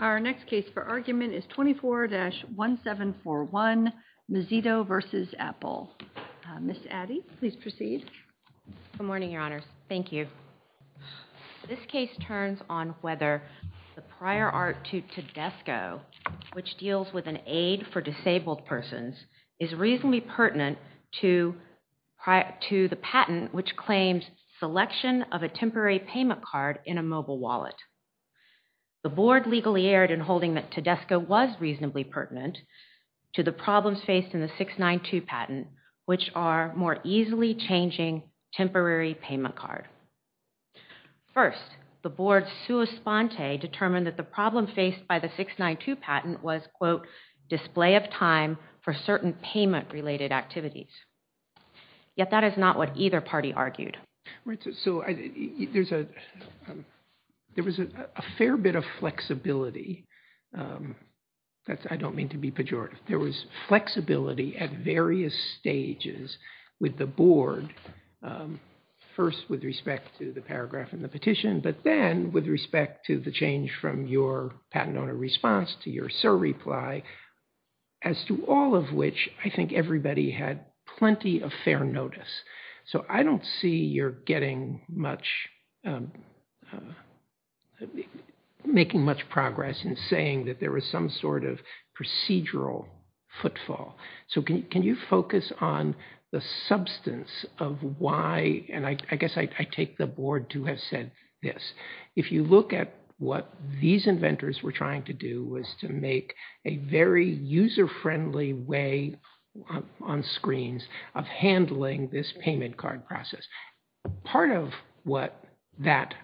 Our next case for argument is 24-1741, Mozito v. Apple. Ms. Addy, please proceed. Good morning, Your Honors. Thank you. This case turns on whether the prior art to Tedesco, which deals with an aid for disabled persons, is reasonably pertinent to the patent which claims selection of a temporary payment card in a mobile wallet. The Board legally erred in holding that Tedesco was reasonably pertinent to the problems faced in the 692 patent, which are more easily changing temporary payment card. First, the Board's sua sponte determined that the problem faced by the 692 patent was quote, display of time for certain payment-related activities, yet that is not what either party argued. So there was a fair bit of flexibility. I don't mean to be pejorative. There was flexibility at various stages with the Board, first with respect to the paragraph and the petition, but then with respect to the change from your patent owner response to your surreply, as to all of which I think everybody had plenty of fair notice. So I don't see you're getting much, making much progress in saying that there was some sort of procedural footfall. So can you focus on the substance of why, and I guess I take the Board to have said this, if you look at what these inventors were trying to do was to make a very user-friendly way on screens of handling this payment card process. Part of what that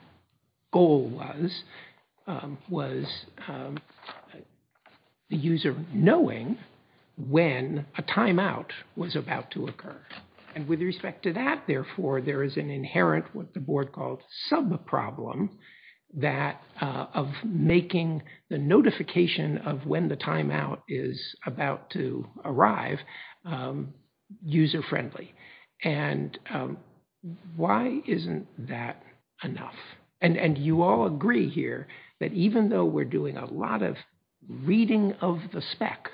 goal was, was the user knowing when a timeout was about to occur. And with respect to that, therefore, there is an inherent, what the Board called subproblem, that of making the notification of when the timeout is about to arrive user-friendly. And why isn't that enough? And you all agree here that even though we're doing a lot of reading of the spec,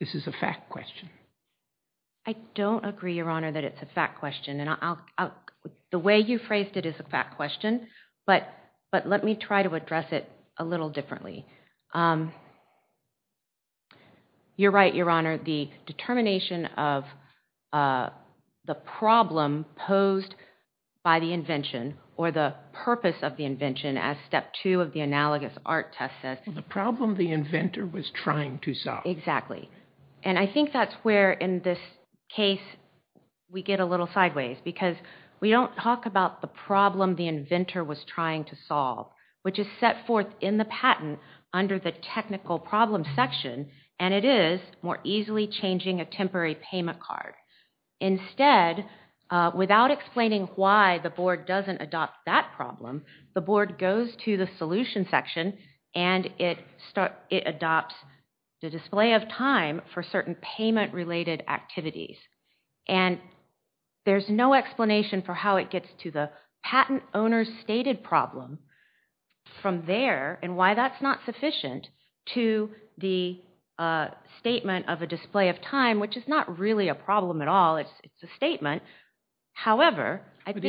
this is a fact question. I don't agree, Your Honor, that it's a fact question. The way you phrased it is a fact question, but let me try to address it a little differently. You're right, Your Honor, the determination of the problem posed by the invention, or the purpose of the invention, as step two of the analogous art test says. The problem the inventor was trying to solve. Exactly. And I think that's where, in this case, we get a little sideways, because we don't talk about the problem the inventor was trying to solve, which is set forth in the patent under the technical problem section, and it is more easily changing a temporary payment card. Instead, without explaining why the Board doesn't adopt that problem, the Board goes to the solution section, and it adopts the display of time for certain payment-related activities. And there's no explanation for how it gets to the patent owner stated problem from there, and why that's not sufficient, to the statement of a display of time, which is not really a problem at all, it's a statement. However, I think...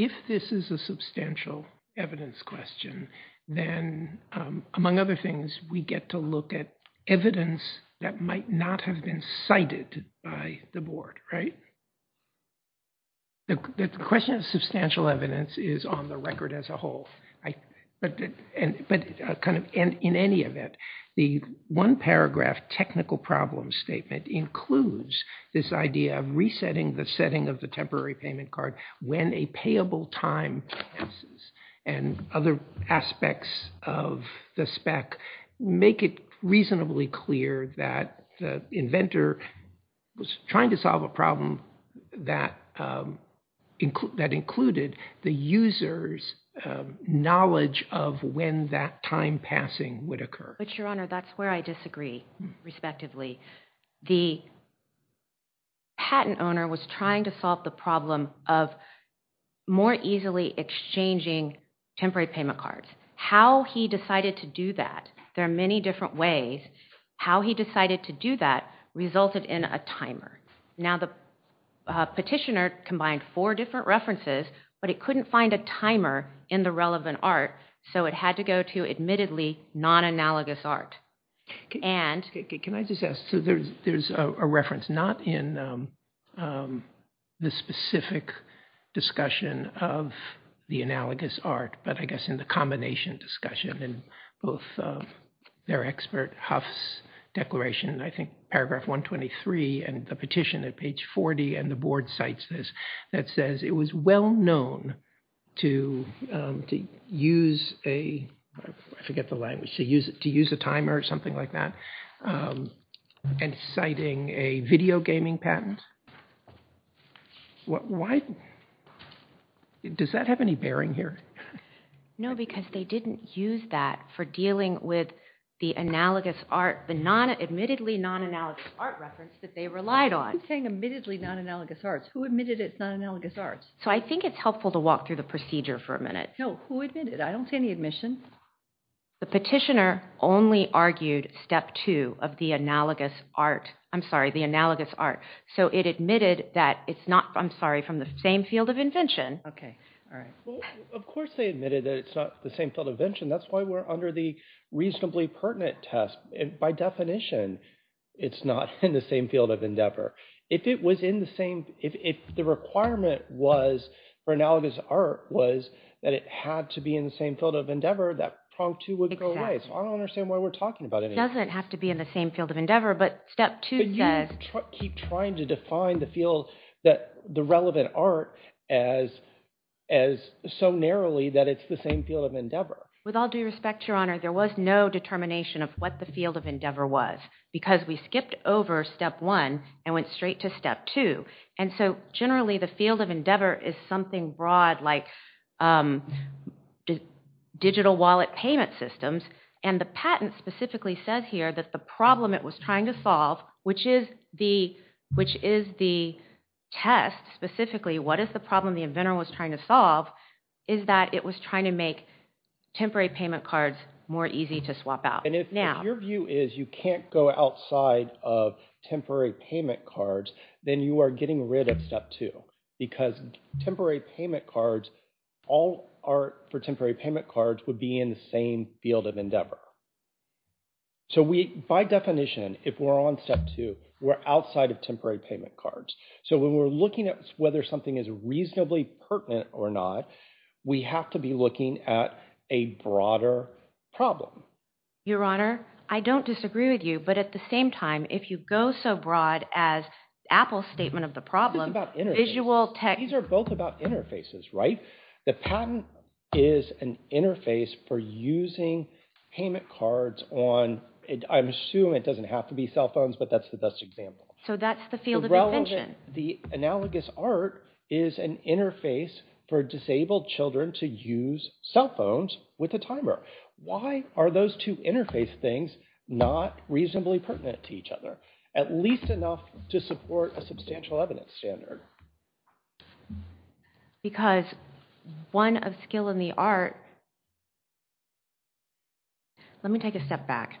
If this is a substantial evidence question, then, among other things, we get to look at evidence that might not have been cited by the Board, right? The question of substantial evidence is on the record as a whole. In any event, the one paragraph technical problem statement includes this idea of resetting the setting of the temporary payment card when a payable time passes. And other aspects of the spec make it reasonably clear that the inventor was trying to solve a problem that included the user's knowledge of when that time passing would occur. But, Your Honor, that's where I disagree, respectively. The patent owner was trying to solve the problem of more easily exchanging temporary payment cards. How he decided to do that, there are many different ways, how he decided to do that resulted in a timer. Now the petitioner combined four different references, but it couldn't find a timer in the relevant art, so it had to go to, admittedly, non-analogous art. Can I just ask, so there's a reference not in the specific discussion of the analogous art, but I guess in the combination discussion in both their expert, Huff's declaration, I think, paragraph 123, and the petition at page 40, and the Board cites this, that says it was well known to use a, I forget the language, to use a timer, to use a timer to use a timer, something like that, and citing a video gaming patent. Does that have any bearing here? No, because they didn't use that for dealing with the analogous art, the admittedly non-analogous art reference that they relied on. Who's saying admittedly non-analogous art? Who admitted it's non-analogous art? So I think it's helpful to walk through the procedure for a minute. No, who admitted it? I don't see any admission. The petitioner only argued step two of the analogous art, I'm sorry, the analogous art. So it admitted that it's not, I'm sorry, from the same field of invention. Okay, all right. Of course they admitted that it's not the same field of invention. That's why we're under the reasonably pertinent test. By definition, it's not in the same field of endeavor. If it was in the same, if the requirement was for analogous art was that it had to be in the same field of endeavor, that prong two would go away. So I don't understand why we're talking about it. It doesn't have to be in the same field of endeavor, but step two says... But you keep trying to define the field that the relevant art as so narrowly that it's the same field of endeavor. With all due respect, Your Honor, there was no determination of what the field of endeavor was because we skipped over step one and went straight to step two. And so generally the field of endeavor is something broad like digital wallet payment systems and the patent specifically says here that the problem it was trying to solve, which is the test specifically, what is the problem the inventor was trying to solve, is that it was trying to make temporary payment cards more easy to swap out. And if your view is you can't go outside of temporary payment cards, then you are getting rid of step two because temporary payment cards, all art for temporary payment cards would be in the same field of endeavor. So we, by definition, if we're on step two, we're outside of temporary payment cards. So when we're looking at whether something is reasonably pertinent or not, we have to be looking at a broader problem. Your Honor, I don't disagree with you, but at the same time, if you go so broad as Apple's statement of the problem, visual tech... These are both about interfaces, right? The patent is an interface for using payment cards on, I'm assuming it doesn't have to be cell phones, but that's the best example. So that's the field of invention. The analogous art is an interface for disabled children to use cell phones with a timer. Why are those two interface things not reasonably pertinent to each other? At least enough to support a substantial evidence standard. Because one of skill in the art... Let me take a step back.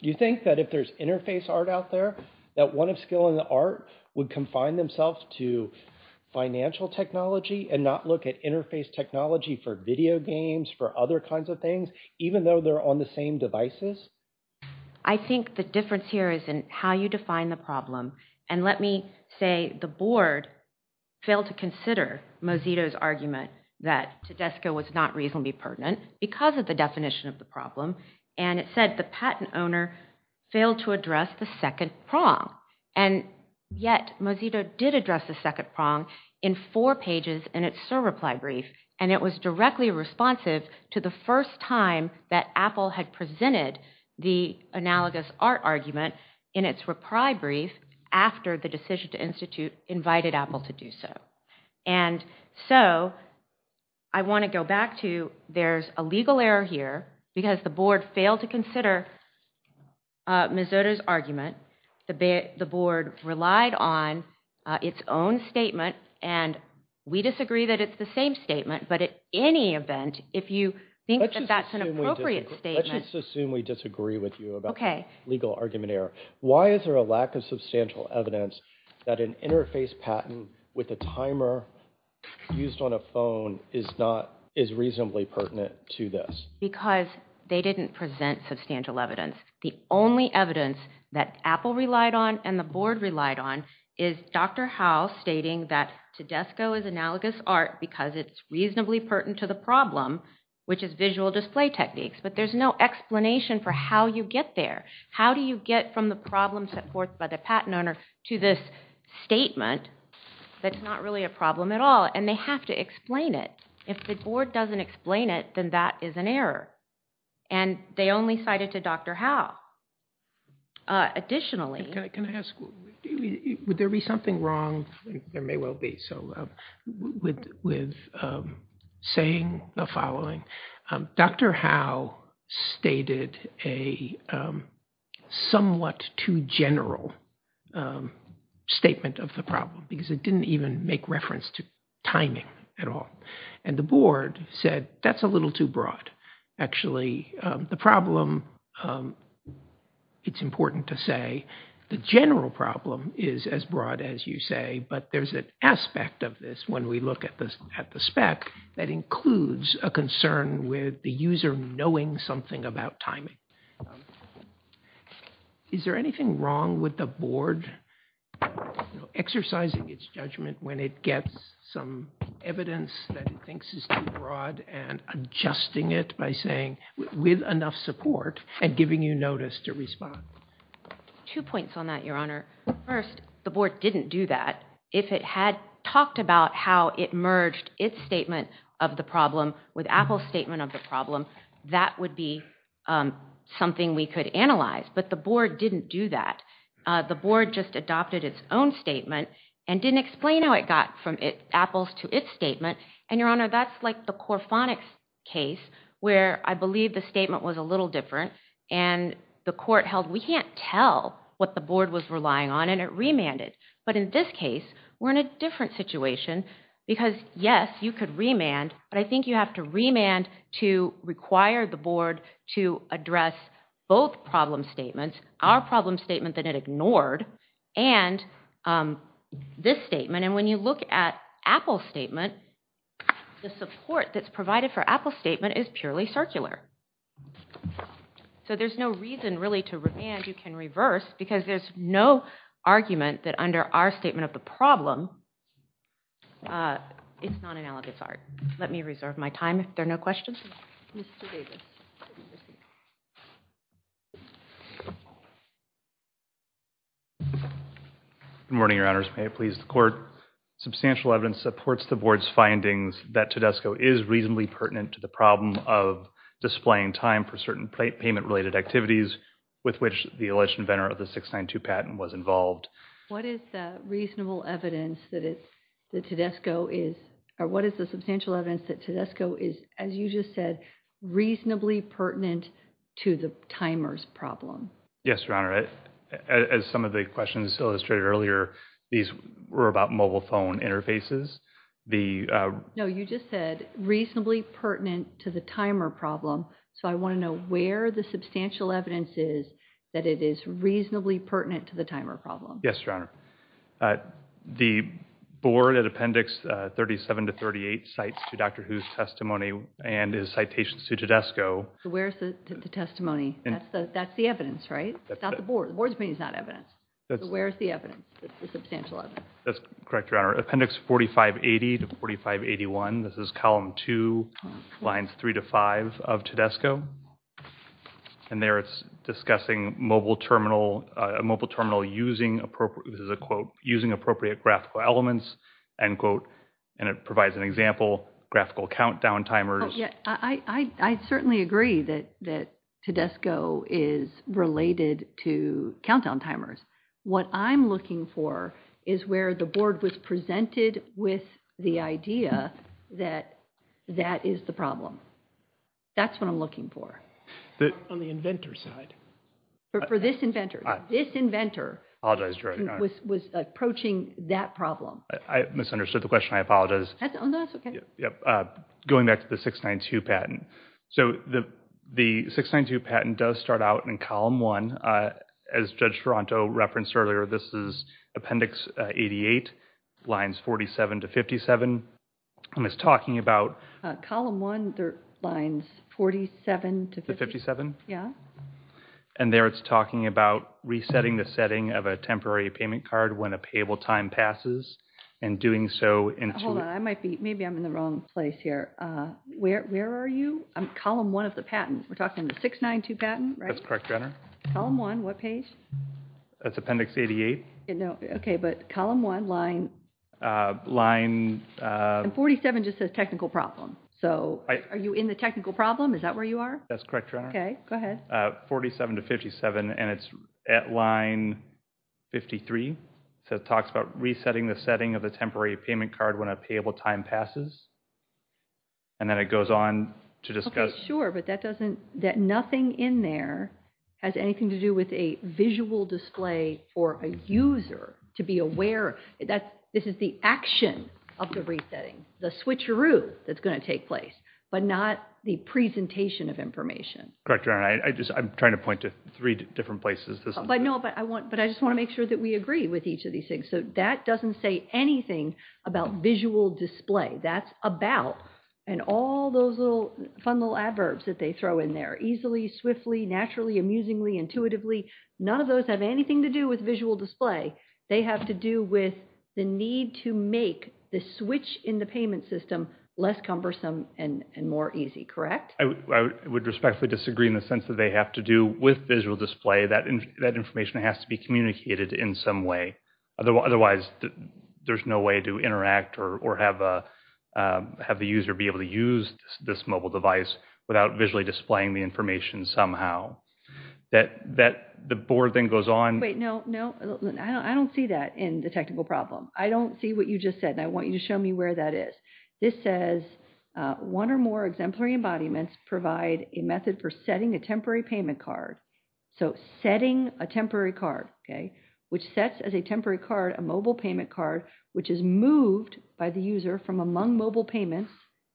You think that if there's interface art out there, that one of skill in the art would confine themselves to financial technology and not look at interface technology for video games, for other kinds of things, even though they're on the same devices? I think the difference here is in how you define the problem. And let me say the board failed to consider Mozito's argument that Tedesco was not reasonably pertinent because of the definition of the problem, and it said the patent owner failed to address the second prong. And yet, Mozito did address the second prong in four pages in its SIR reply brief, and it was directly responsive to the first time that Apple had presented the analogous art argument in its reply brief after the decision to institute invited Apple to do so. And so, I want to go back to there's a legal error here because the board failed to consider Mozito's argument, the board relied on its own statement, and we disagree that it's the same statement. But at any event, if you think that that's an appropriate statement. Let's just assume we disagree with you about the legal argument error. Why is there a lack of substantial evidence that an interface patent with a timer used on a phone is not, is reasonably pertinent to this? Because they didn't present substantial evidence. The only evidence that Apple relied on and the board relied on is Dr. Howe stating that the Desco is analogous art because it's reasonably pertinent to the problem, which is visual display techniques. But there's no explanation for how you get there. How do you get from the problem set forth by the patent owner to this statement that's not really a problem at all? And they have to explain it. If the board doesn't explain it, then that is an error. And they only cited to Dr. Howe. Additionally. Can I ask, would there be something wrong, there may well be, so with saying the following, Dr. Howe stated a somewhat too general statement of the problem because it didn't even make reference to timing at all. And the board said, that's a little too broad, actually. The problem, it's important to say, the general problem is as broad as you say, but there's an aspect of this when we look at the spec that includes a concern with the user knowing something about timing. Is there anything wrong with the board exercising its judgment when it gets some evidence that it thinks is too broad and adjusting it by saying, with enough support, and giving you notice to respond? Two points on that, Your Honor. First, the board didn't do that. If it had talked about how it merged its statement of the problem with Apple's statement of the problem, that would be something we could analyze. But the board didn't do that. The board just adopted its own statement and didn't explain how it got from Apple's to its statement. And, Your Honor, that's like the Corfonix case where I believe the statement was a little different and the court held, we can't tell what the board was relying on and it remanded. But in this case, we're in a different situation because, yes, you could remand, but I think you have to remand to require the board to address both problem statements, our problem statement that it ignored, and this statement. And when you look at Apple's statement, the support that's provided for Apple's statement is purely circular. So there's no reason really to remand. You can reverse because there's no argument that under our statement of the problem, it's non-analogous art. Let me reserve my time if there are no questions. Mr. Davis. Good morning, Your Honors. May it please the court. Substantial evidence supports the board's findings that Tedesco is reasonably pertinent to the problem of displaying time for certain payment-related activities with which the alleged inventor of the 692 patent was involved. What is the reasonable evidence that Tedesco is, or what is the substantial evidence that Tedesco is, as you just said, reasonably pertinent to the timer's problem? Yes, Your Honor. As some of the questions illustrated earlier, these were about mobile phone interfaces. No, you just said reasonably pertinent to the timer problem. So I want to know where the substantial evidence is that it is reasonably pertinent to the timer problem. Yes, Your Honor. The board at Appendix 37 to 38 cites to Dr. Hu's testimony and his citations to Tedesco. Where's the testimony? That's the evidence, right? The board's opinion is not evidence. So where is the evidence, the substantial evidence? That's correct, Your Honor. Appendix 4580 to 4581, this is Column 2, Lines 3 to 5 of Tedesco. And there it's discussing a mobile terminal using, this is a quote, using appropriate graphical elements, end quote, and it provides an example, graphical countdown timers. I certainly agree that Tedesco is related to countdown timers. What I'm looking for is where the board was presented with the idea that that is the problem. That's what I'm looking for. On the inventor's side. For this inventor. This inventor. I apologize, Your Honor. Was approaching that problem. I misunderstood the question. I apologize. That's okay. Going back to the 692 patent. So the 692 patent does start out in Column 1. As Judge Ferranto referenced earlier, this is Appendix 88, Lines 47 to 57, and it's talking about Column 1, Lines 47 to 57. And there it's talking about resetting the setting of a temporary payment card when a payable time passes, and doing so into Hold on, I might be, maybe I'm in the wrong place here. Where are you? Column 1 of the patent. We're talking the 692 patent, right? That's correct, Your Honor. Column 1, what page? That's Appendix 88. No, okay, but Column 1, line. And 47 just says technical problem. So are you in the technical problem? Is that where you are? That's correct, Your Honor. Okay, go ahead. 47 to 57, and it's at line 53. So it talks about resetting the setting of a temporary payment card when a payable time passes, and doing so into Hold on, I might be, maybe I'm in the wrong place here. And then it goes on to discuss. Okay, sure, but that doesn't, that nothing in there has anything to do with a visual display for a user to be aware. This is the action of the resetting, the switcheroo that's going to take place, but not the presentation of information. Correct, Your Honor. I just, I'm trying to point to three different places. But no, but I just want to make sure that we agree with each of these things. So that doesn't say anything about visual display. That's about, and all those little fun little adverbs that they throw in there, easily, swiftly, naturally, amusingly, intuitively, none of those have anything to do with visual display. They have to do with the need to make the switch in the payment system less cumbersome and more easy, correct? I would respectfully disagree in the sense that they have to do with visual display. That information has to be communicated in some way. Otherwise, there's no way to interact or have the user be able to use this mobile device without visually displaying the information somehow. That, the board then goes on. Wait, no, no, I don't see that in the technical problem. I don't see what you just said, and I want you to show me where that is. This says, one or more exemplary embodiments provide a method for setting a temporary payment card. So setting a temporary card, okay, which sets as a temporary card a mobile payment card which is moved by the user from among mobile payments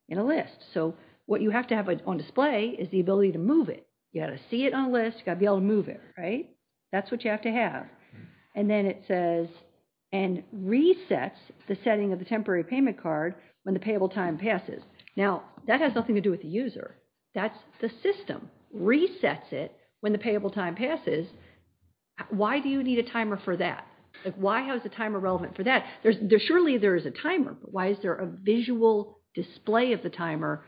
in a list. So what you have to have on display is the ability to move it. You've got to see it on a list, you've got to be able to move it, right? That's what you have to have. And then it says, and resets the setting of the temporary payment card when the payable time passes. Now, that has nothing to do with the user. That's the system. Resets it when the payable time passes. Why do you need a timer for that? Why is the timer relevant for that? Surely there is a timer, but why is there a visual display of the timer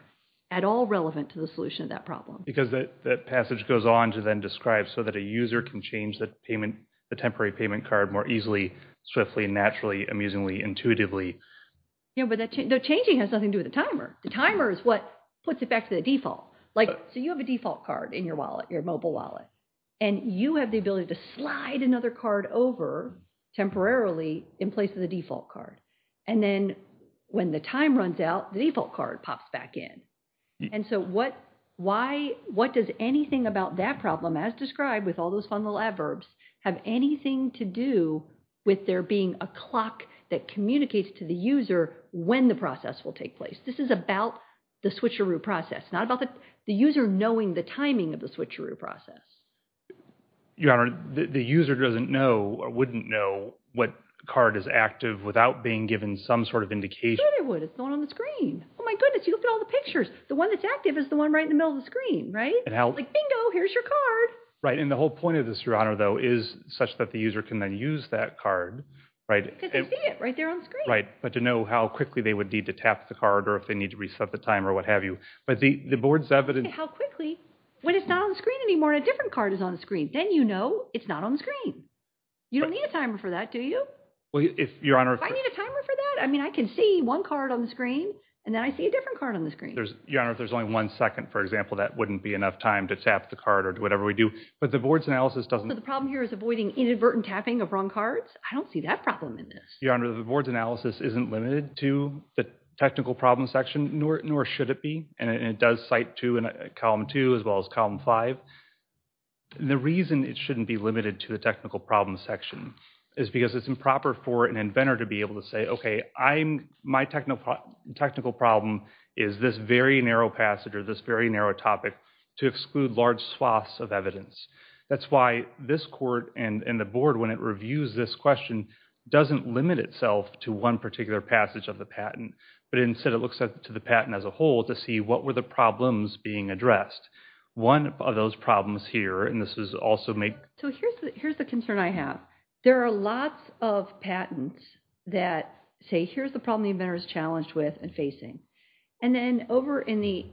at all relevant to the solution of that problem? Because that passage goes on to then describe so that a user can change the temporary payment card more easily, swiftly, naturally, amusingly, intuitively. Yeah, but the changing has nothing to do with the timer. The timer is what puts it back to the default. So you have a default card in your wallet, your mobile wallet. And you have the ability to slide another card over temporarily in place of the default card. And then when the time runs out, the default card pops back in. And so what does anything about that problem, as described with all those fun little adverbs, have anything to do with there being a clock that communicates to the user when the process will take place? This is about the switcheroo process, not about the user knowing the timing of the switcheroo process. Your Honor, the user doesn't know or wouldn't know what card is active without being given some sort of indication. Sure they would. It's the one on the screen. Oh my goodness, you look at all the pictures. The one that's active is the one right in the middle of the screen, right? Like bingo, here's your card. Right, and the whole point of this, Your Honor, though, is such that the user can then use that card. Because they see it right there on the screen. Right, but to know how quickly they would need to tap the card or if they need to reset the timer or what have you. But the board's evidence... How quickly? When it's not on the screen anymore and a different card is on the screen. Then you know it's not on the screen. You don't need a timer for that, do you? Well, Your Honor... If I need a timer for that, I mean, I can see one card on the screen and then I see a different card on the screen. Your Honor, if there's only one second, for example, that wouldn't be enough time to tap the card or whatever we do. But the board's analysis doesn't... So the problem here is avoiding inadvertent tapping of wrong cards? I don't see that problem in this. Your Honor, the board's analysis isn't limited to the technical problem section, nor should it be. And it does cite two in column two as well as column five. The reason it shouldn't be limited to the technical problem section is because it's improper for an inventor to be able to say, okay, my technical problem is this very narrow passage or this very narrow topic to exclude large swaths of evidence. That's why this court and the board, when it reviews this question, doesn't limit itself to one particular passage of the patent, but instead it looks to the patent as a whole to see what were the problems being addressed. One of those problems here, and this is also made... So here's the concern I have. There are lots of patents that say, here's the problem the inventor is challenged with and facing. And then over in the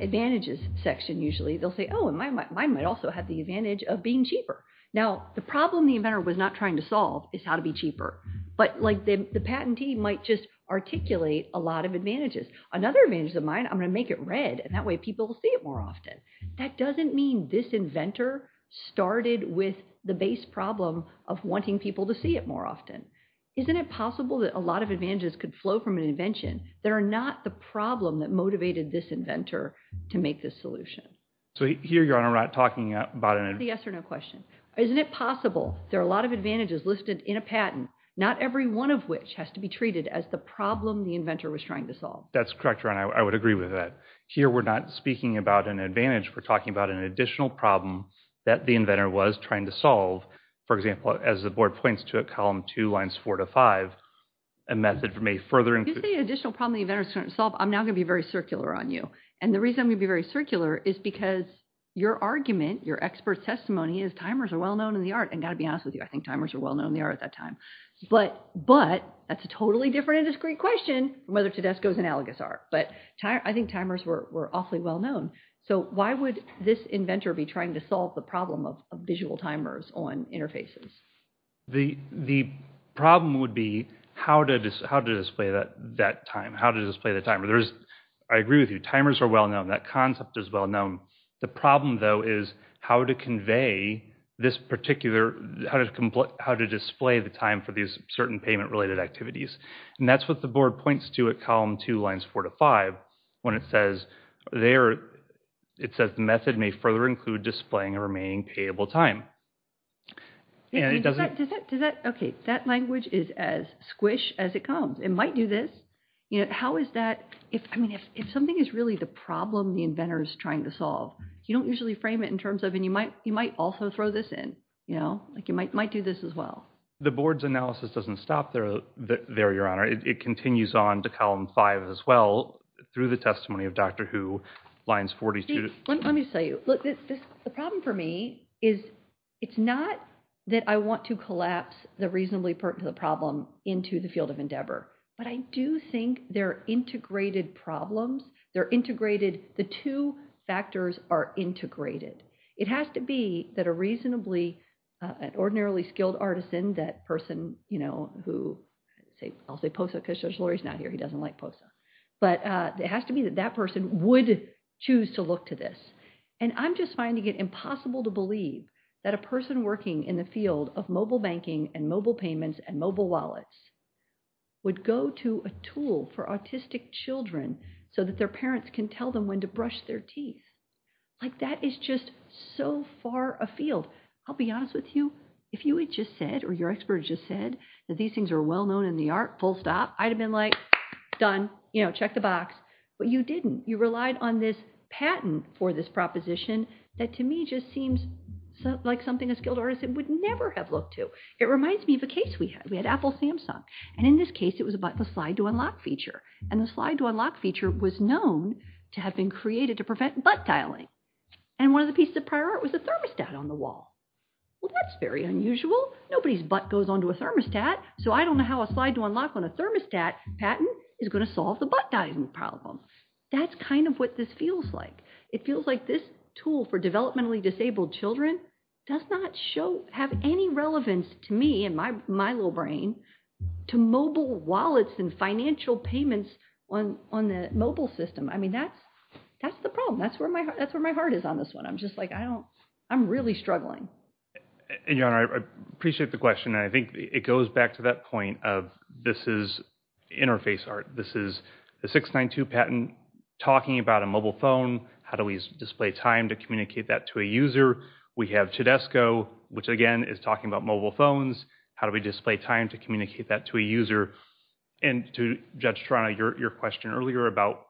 advantages section usually, they'll say, oh, mine might also have the advantage of being cheaper. Now, the problem the inventor was not trying to solve is how to be cheaper. But the patentee might just articulate a lot of advantages. Another advantage of mine, I'm going to make it red, and that way people will see it more often. That doesn't mean this inventor started with the base problem of wanting people to see it more often. Isn't it possible that a lot of advantages could flow from an invention that are not the problem that motivated this inventor to make this solution? So here, Your Honor, I'm not talking about an... It's a yes or no question. Isn't it possible there are a lot of advantages listed in a patent, not every one of which has to be treated as the problem the inventor was trying to solve? That's correct, Your Honor. I would agree with that. Here, we're not speaking about an advantage. We're talking about an additional problem that the inventor was trying to solve. For example, as the board points to it, column two, lines four to five, a method may further include... If you say an additional problem the inventor was trying to solve, I'm now going to be very circular on you. And the reason I'm going to be very circular is because your argument, your expert testimony, is timers are well-known in the art. And I've got to be honest with you, I think timers were well-known in the art at that time. But that's a totally different and discreet question from whether Tedesco's analogous are. But I think timers were awfully well-known. So why would this inventor be trying to solve the problem of visual timers on interfaces? The problem would be how to display that time, how to display the timer. I agree with you. Timers are well-known. That concept is well-known. The problem, though, is how to convey this particular... How to display the time for these certain payment-related activities. And that's what the board points to at column two, lines four to five, when it says there... It says the method may further include displaying a remaining payable time. And it doesn't... Does that... Okay. That language is as squish as it comes. It might do this. How is that... If something is really the problem the inventor is trying to solve, you don't usually frame it in terms of... And you might also throw this in. You might do this as well. The board's analysis doesn't stop there. There, Your Honor. It continues on to column five as well through the testimony of Dr. Who, lines 42... Let me tell you. Look, the problem for me is it's not that I want to collapse the reasonably pertinent problem into the field of endeavor. But I do think they're integrated problems. They're integrated... The two factors are integrated. It has to be that a reasonably... An ordinarily skilled artisan, that person who... I'll say POSA because Judge Lori's not here. He doesn't like POSA. But it has to be that that person would choose to look to this. And I'm just finding it impossible to believe that a person working in the field of mobile banking and mobile payments and mobile wallets would go to a tool for autistic children so that their parents can tell them when to brush their teeth. That is just so far afield. I'll be honest with you. If you had just said or your expert had just said that these things are well-known in the art, full stop, I'd have been like, done. Check the box. But you didn't. You relied on this patent for this proposition that to me just seems like something a skilled artisan would never have looked to. It reminds me of a case we had. We had Apple Samsung. And in this case, it was about the slide-to-unlock feature. And the slide-to-unlock feature was known to have been created to prevent butt dialing. And one of the pieces of prior art was a thermostat on the wall. Well, that's very unusual. Nobody's butt goes onto a thermostat. So I don't know how a slide-to-unlock on a thermostat patent is going to solve the butt dialing problem. That's kind of what this feels like. It feels like this tool for developmentally disabled children does not have any relevance to me and my little brain to mobile wallets and financial payments on the mobile system. I mean, that's the problem. That's where my heart is on this one. I'm just like, I don't, I'm really struggling. And, Jan, I appreciate the question. And I think it goes back to that point of this is interface art. This is a 692 patent talking about a mobile phone. How do we display time to communicate that to a user? We have Tedesco, which, again, is talking about mobile phones. How do we display time to communicate that to a user? And to judge Trana, your question earlier about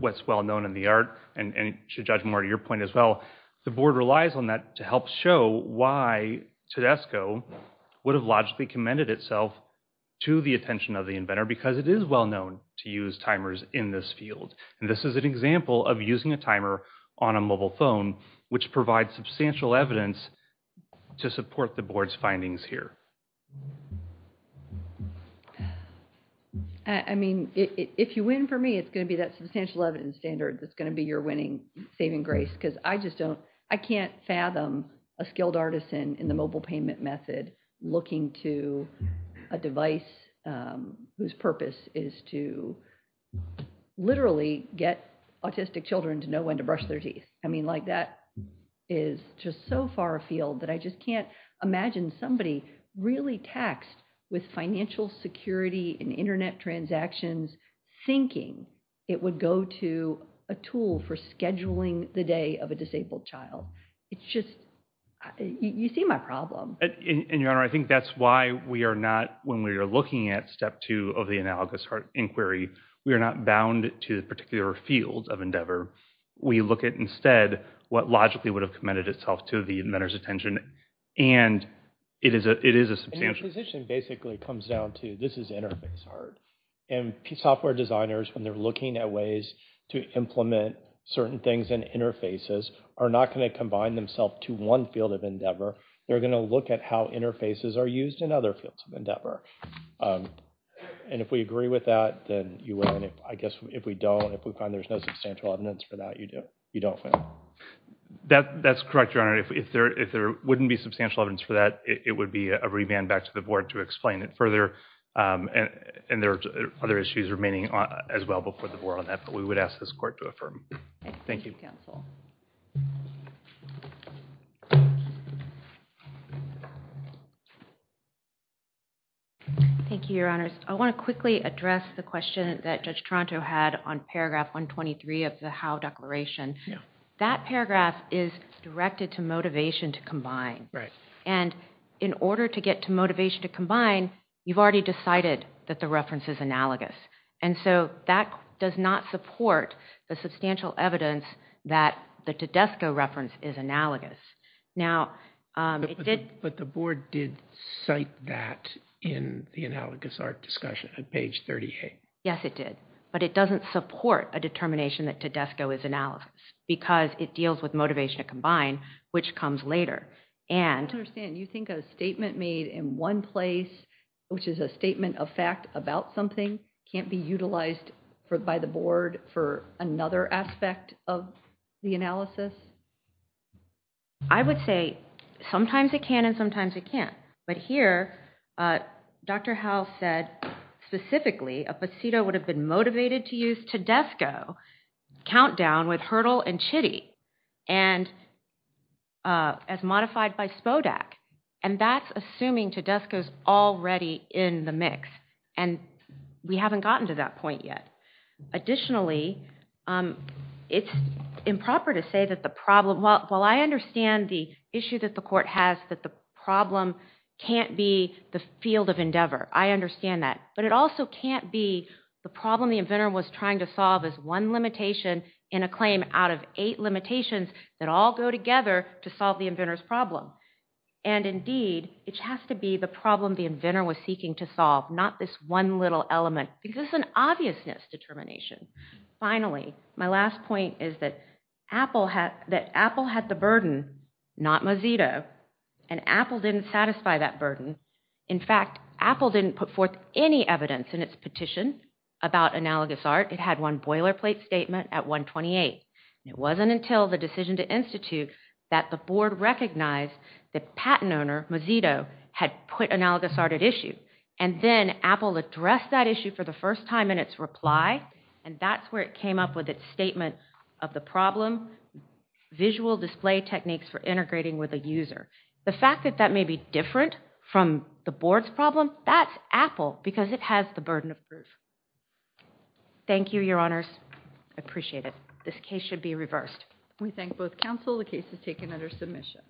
what's well-known in the art, and should judge more to your point as well, the board relies on that to help show why Tedesco would have logically commended itself to the attention of the inventor, because it is well-known to use timers in this field. And this is an example of using a timer on a mobile phone, which provides substantial evidence to support the board's findings here. I mean, if you win for me, it's going to be that substantial evidence standard that's going to be your winning saving grace, because I just don't, I can't fathom a skilled artisan in the mobile payment method looking to a device whose purpose is to literally get autistic children to know when to brush their teeth. I mean, like, that is just so far afield that I just can't imagine somebody really taxed with financial security and internet transactions thinking it would go to a tool for scheduling the day of a disabled child. It's just, you see my problem. And your Honor, I think that's why we are not, when we are looking at step two of the analogous inquiry, we are not bound to a particular field of endeavor. We look at instead what logically would have commended itself to the inventor's attention, and it is a substantial... And your position basically comes down to, this is interface art. And software designers, when they're looking at ways to implement certain things in interfaces, are not going to combine themselves to one field of endeavor. They're going to look at how interfaces are used in other fields of endeavor. And if we agree with that, then you win. I guess if we don't, if we find there's no substantial evidence for that, you don't win. That's correct, your Honor. If there wouldn't be substantial evidence for that, it would be a revamp back to the Board to explain it further, and there are other issues remaining as well before the Board on that, but we would ask this Court to affirm. Thank you. Thank you, Counsel. Thank you, your Honors. I want to quickly address the question that Judge Toronto had on paragraph 123 of the Howe Declaration. Yeah. That paragraph is directed to motivation to combine. And in order to get to motivation to combine, you've already decided that the reference is analogous. And so that does not support the substantial evidence that the Tedesco reference is analogous. But the Board did cite that in the analogous art discussion at page 38. Yes, it did. But it doesn't support a determination that Tedesco is analogous because it deals with motivation to combine, which comes later. I don't understand. You think a statement made in one place, which is a statement of fact about something, can't be utilized by the Board for another aspect of the analysis? I would say sometimes it can and sometimes it can't. But here, Dr. Howe said specifically a posito would have been motivated to use Tedesco countdown with hurdle and chitty and as modified by Spodak. And that's assuming Tedesco is already in the mix. And we haven't gotten to that point yet. Additionally, it's improper to say that the problem – well, I understand the issue that the Court has that the problem can't be the field of endeavor. I understand that. But it also can't be the problem the inventor was trying to solve as one limitation in a claim out of eight limitations that all go together to solve the inventor's problem. And indeed, it has to be the problem the inventor was seeking to solve, not this one little element, because it's an obviousness determination. Finally, my last point is that Apple had the burden, not Mozilla, and Apple didn't satisfy that burden. In fact, Apple didn't put forth any evidence in its petition about analogous art. It had one boilerplate statement at 128. It wasn't until the decision to institute that the board recognized that patent owner Mozito had put analogous art at issue. And then Apple addressed that issue for the first time in its reply, and that's where it came up with its statement of the problem, visual display techniques for integrating with a user. The fact that that may be different from the board's problem, that's Apple, because it has the burden of proof. Thank you, Your Honors. I appreciate it. This case should be reversed. We thank both counsel. The case is taken under submission.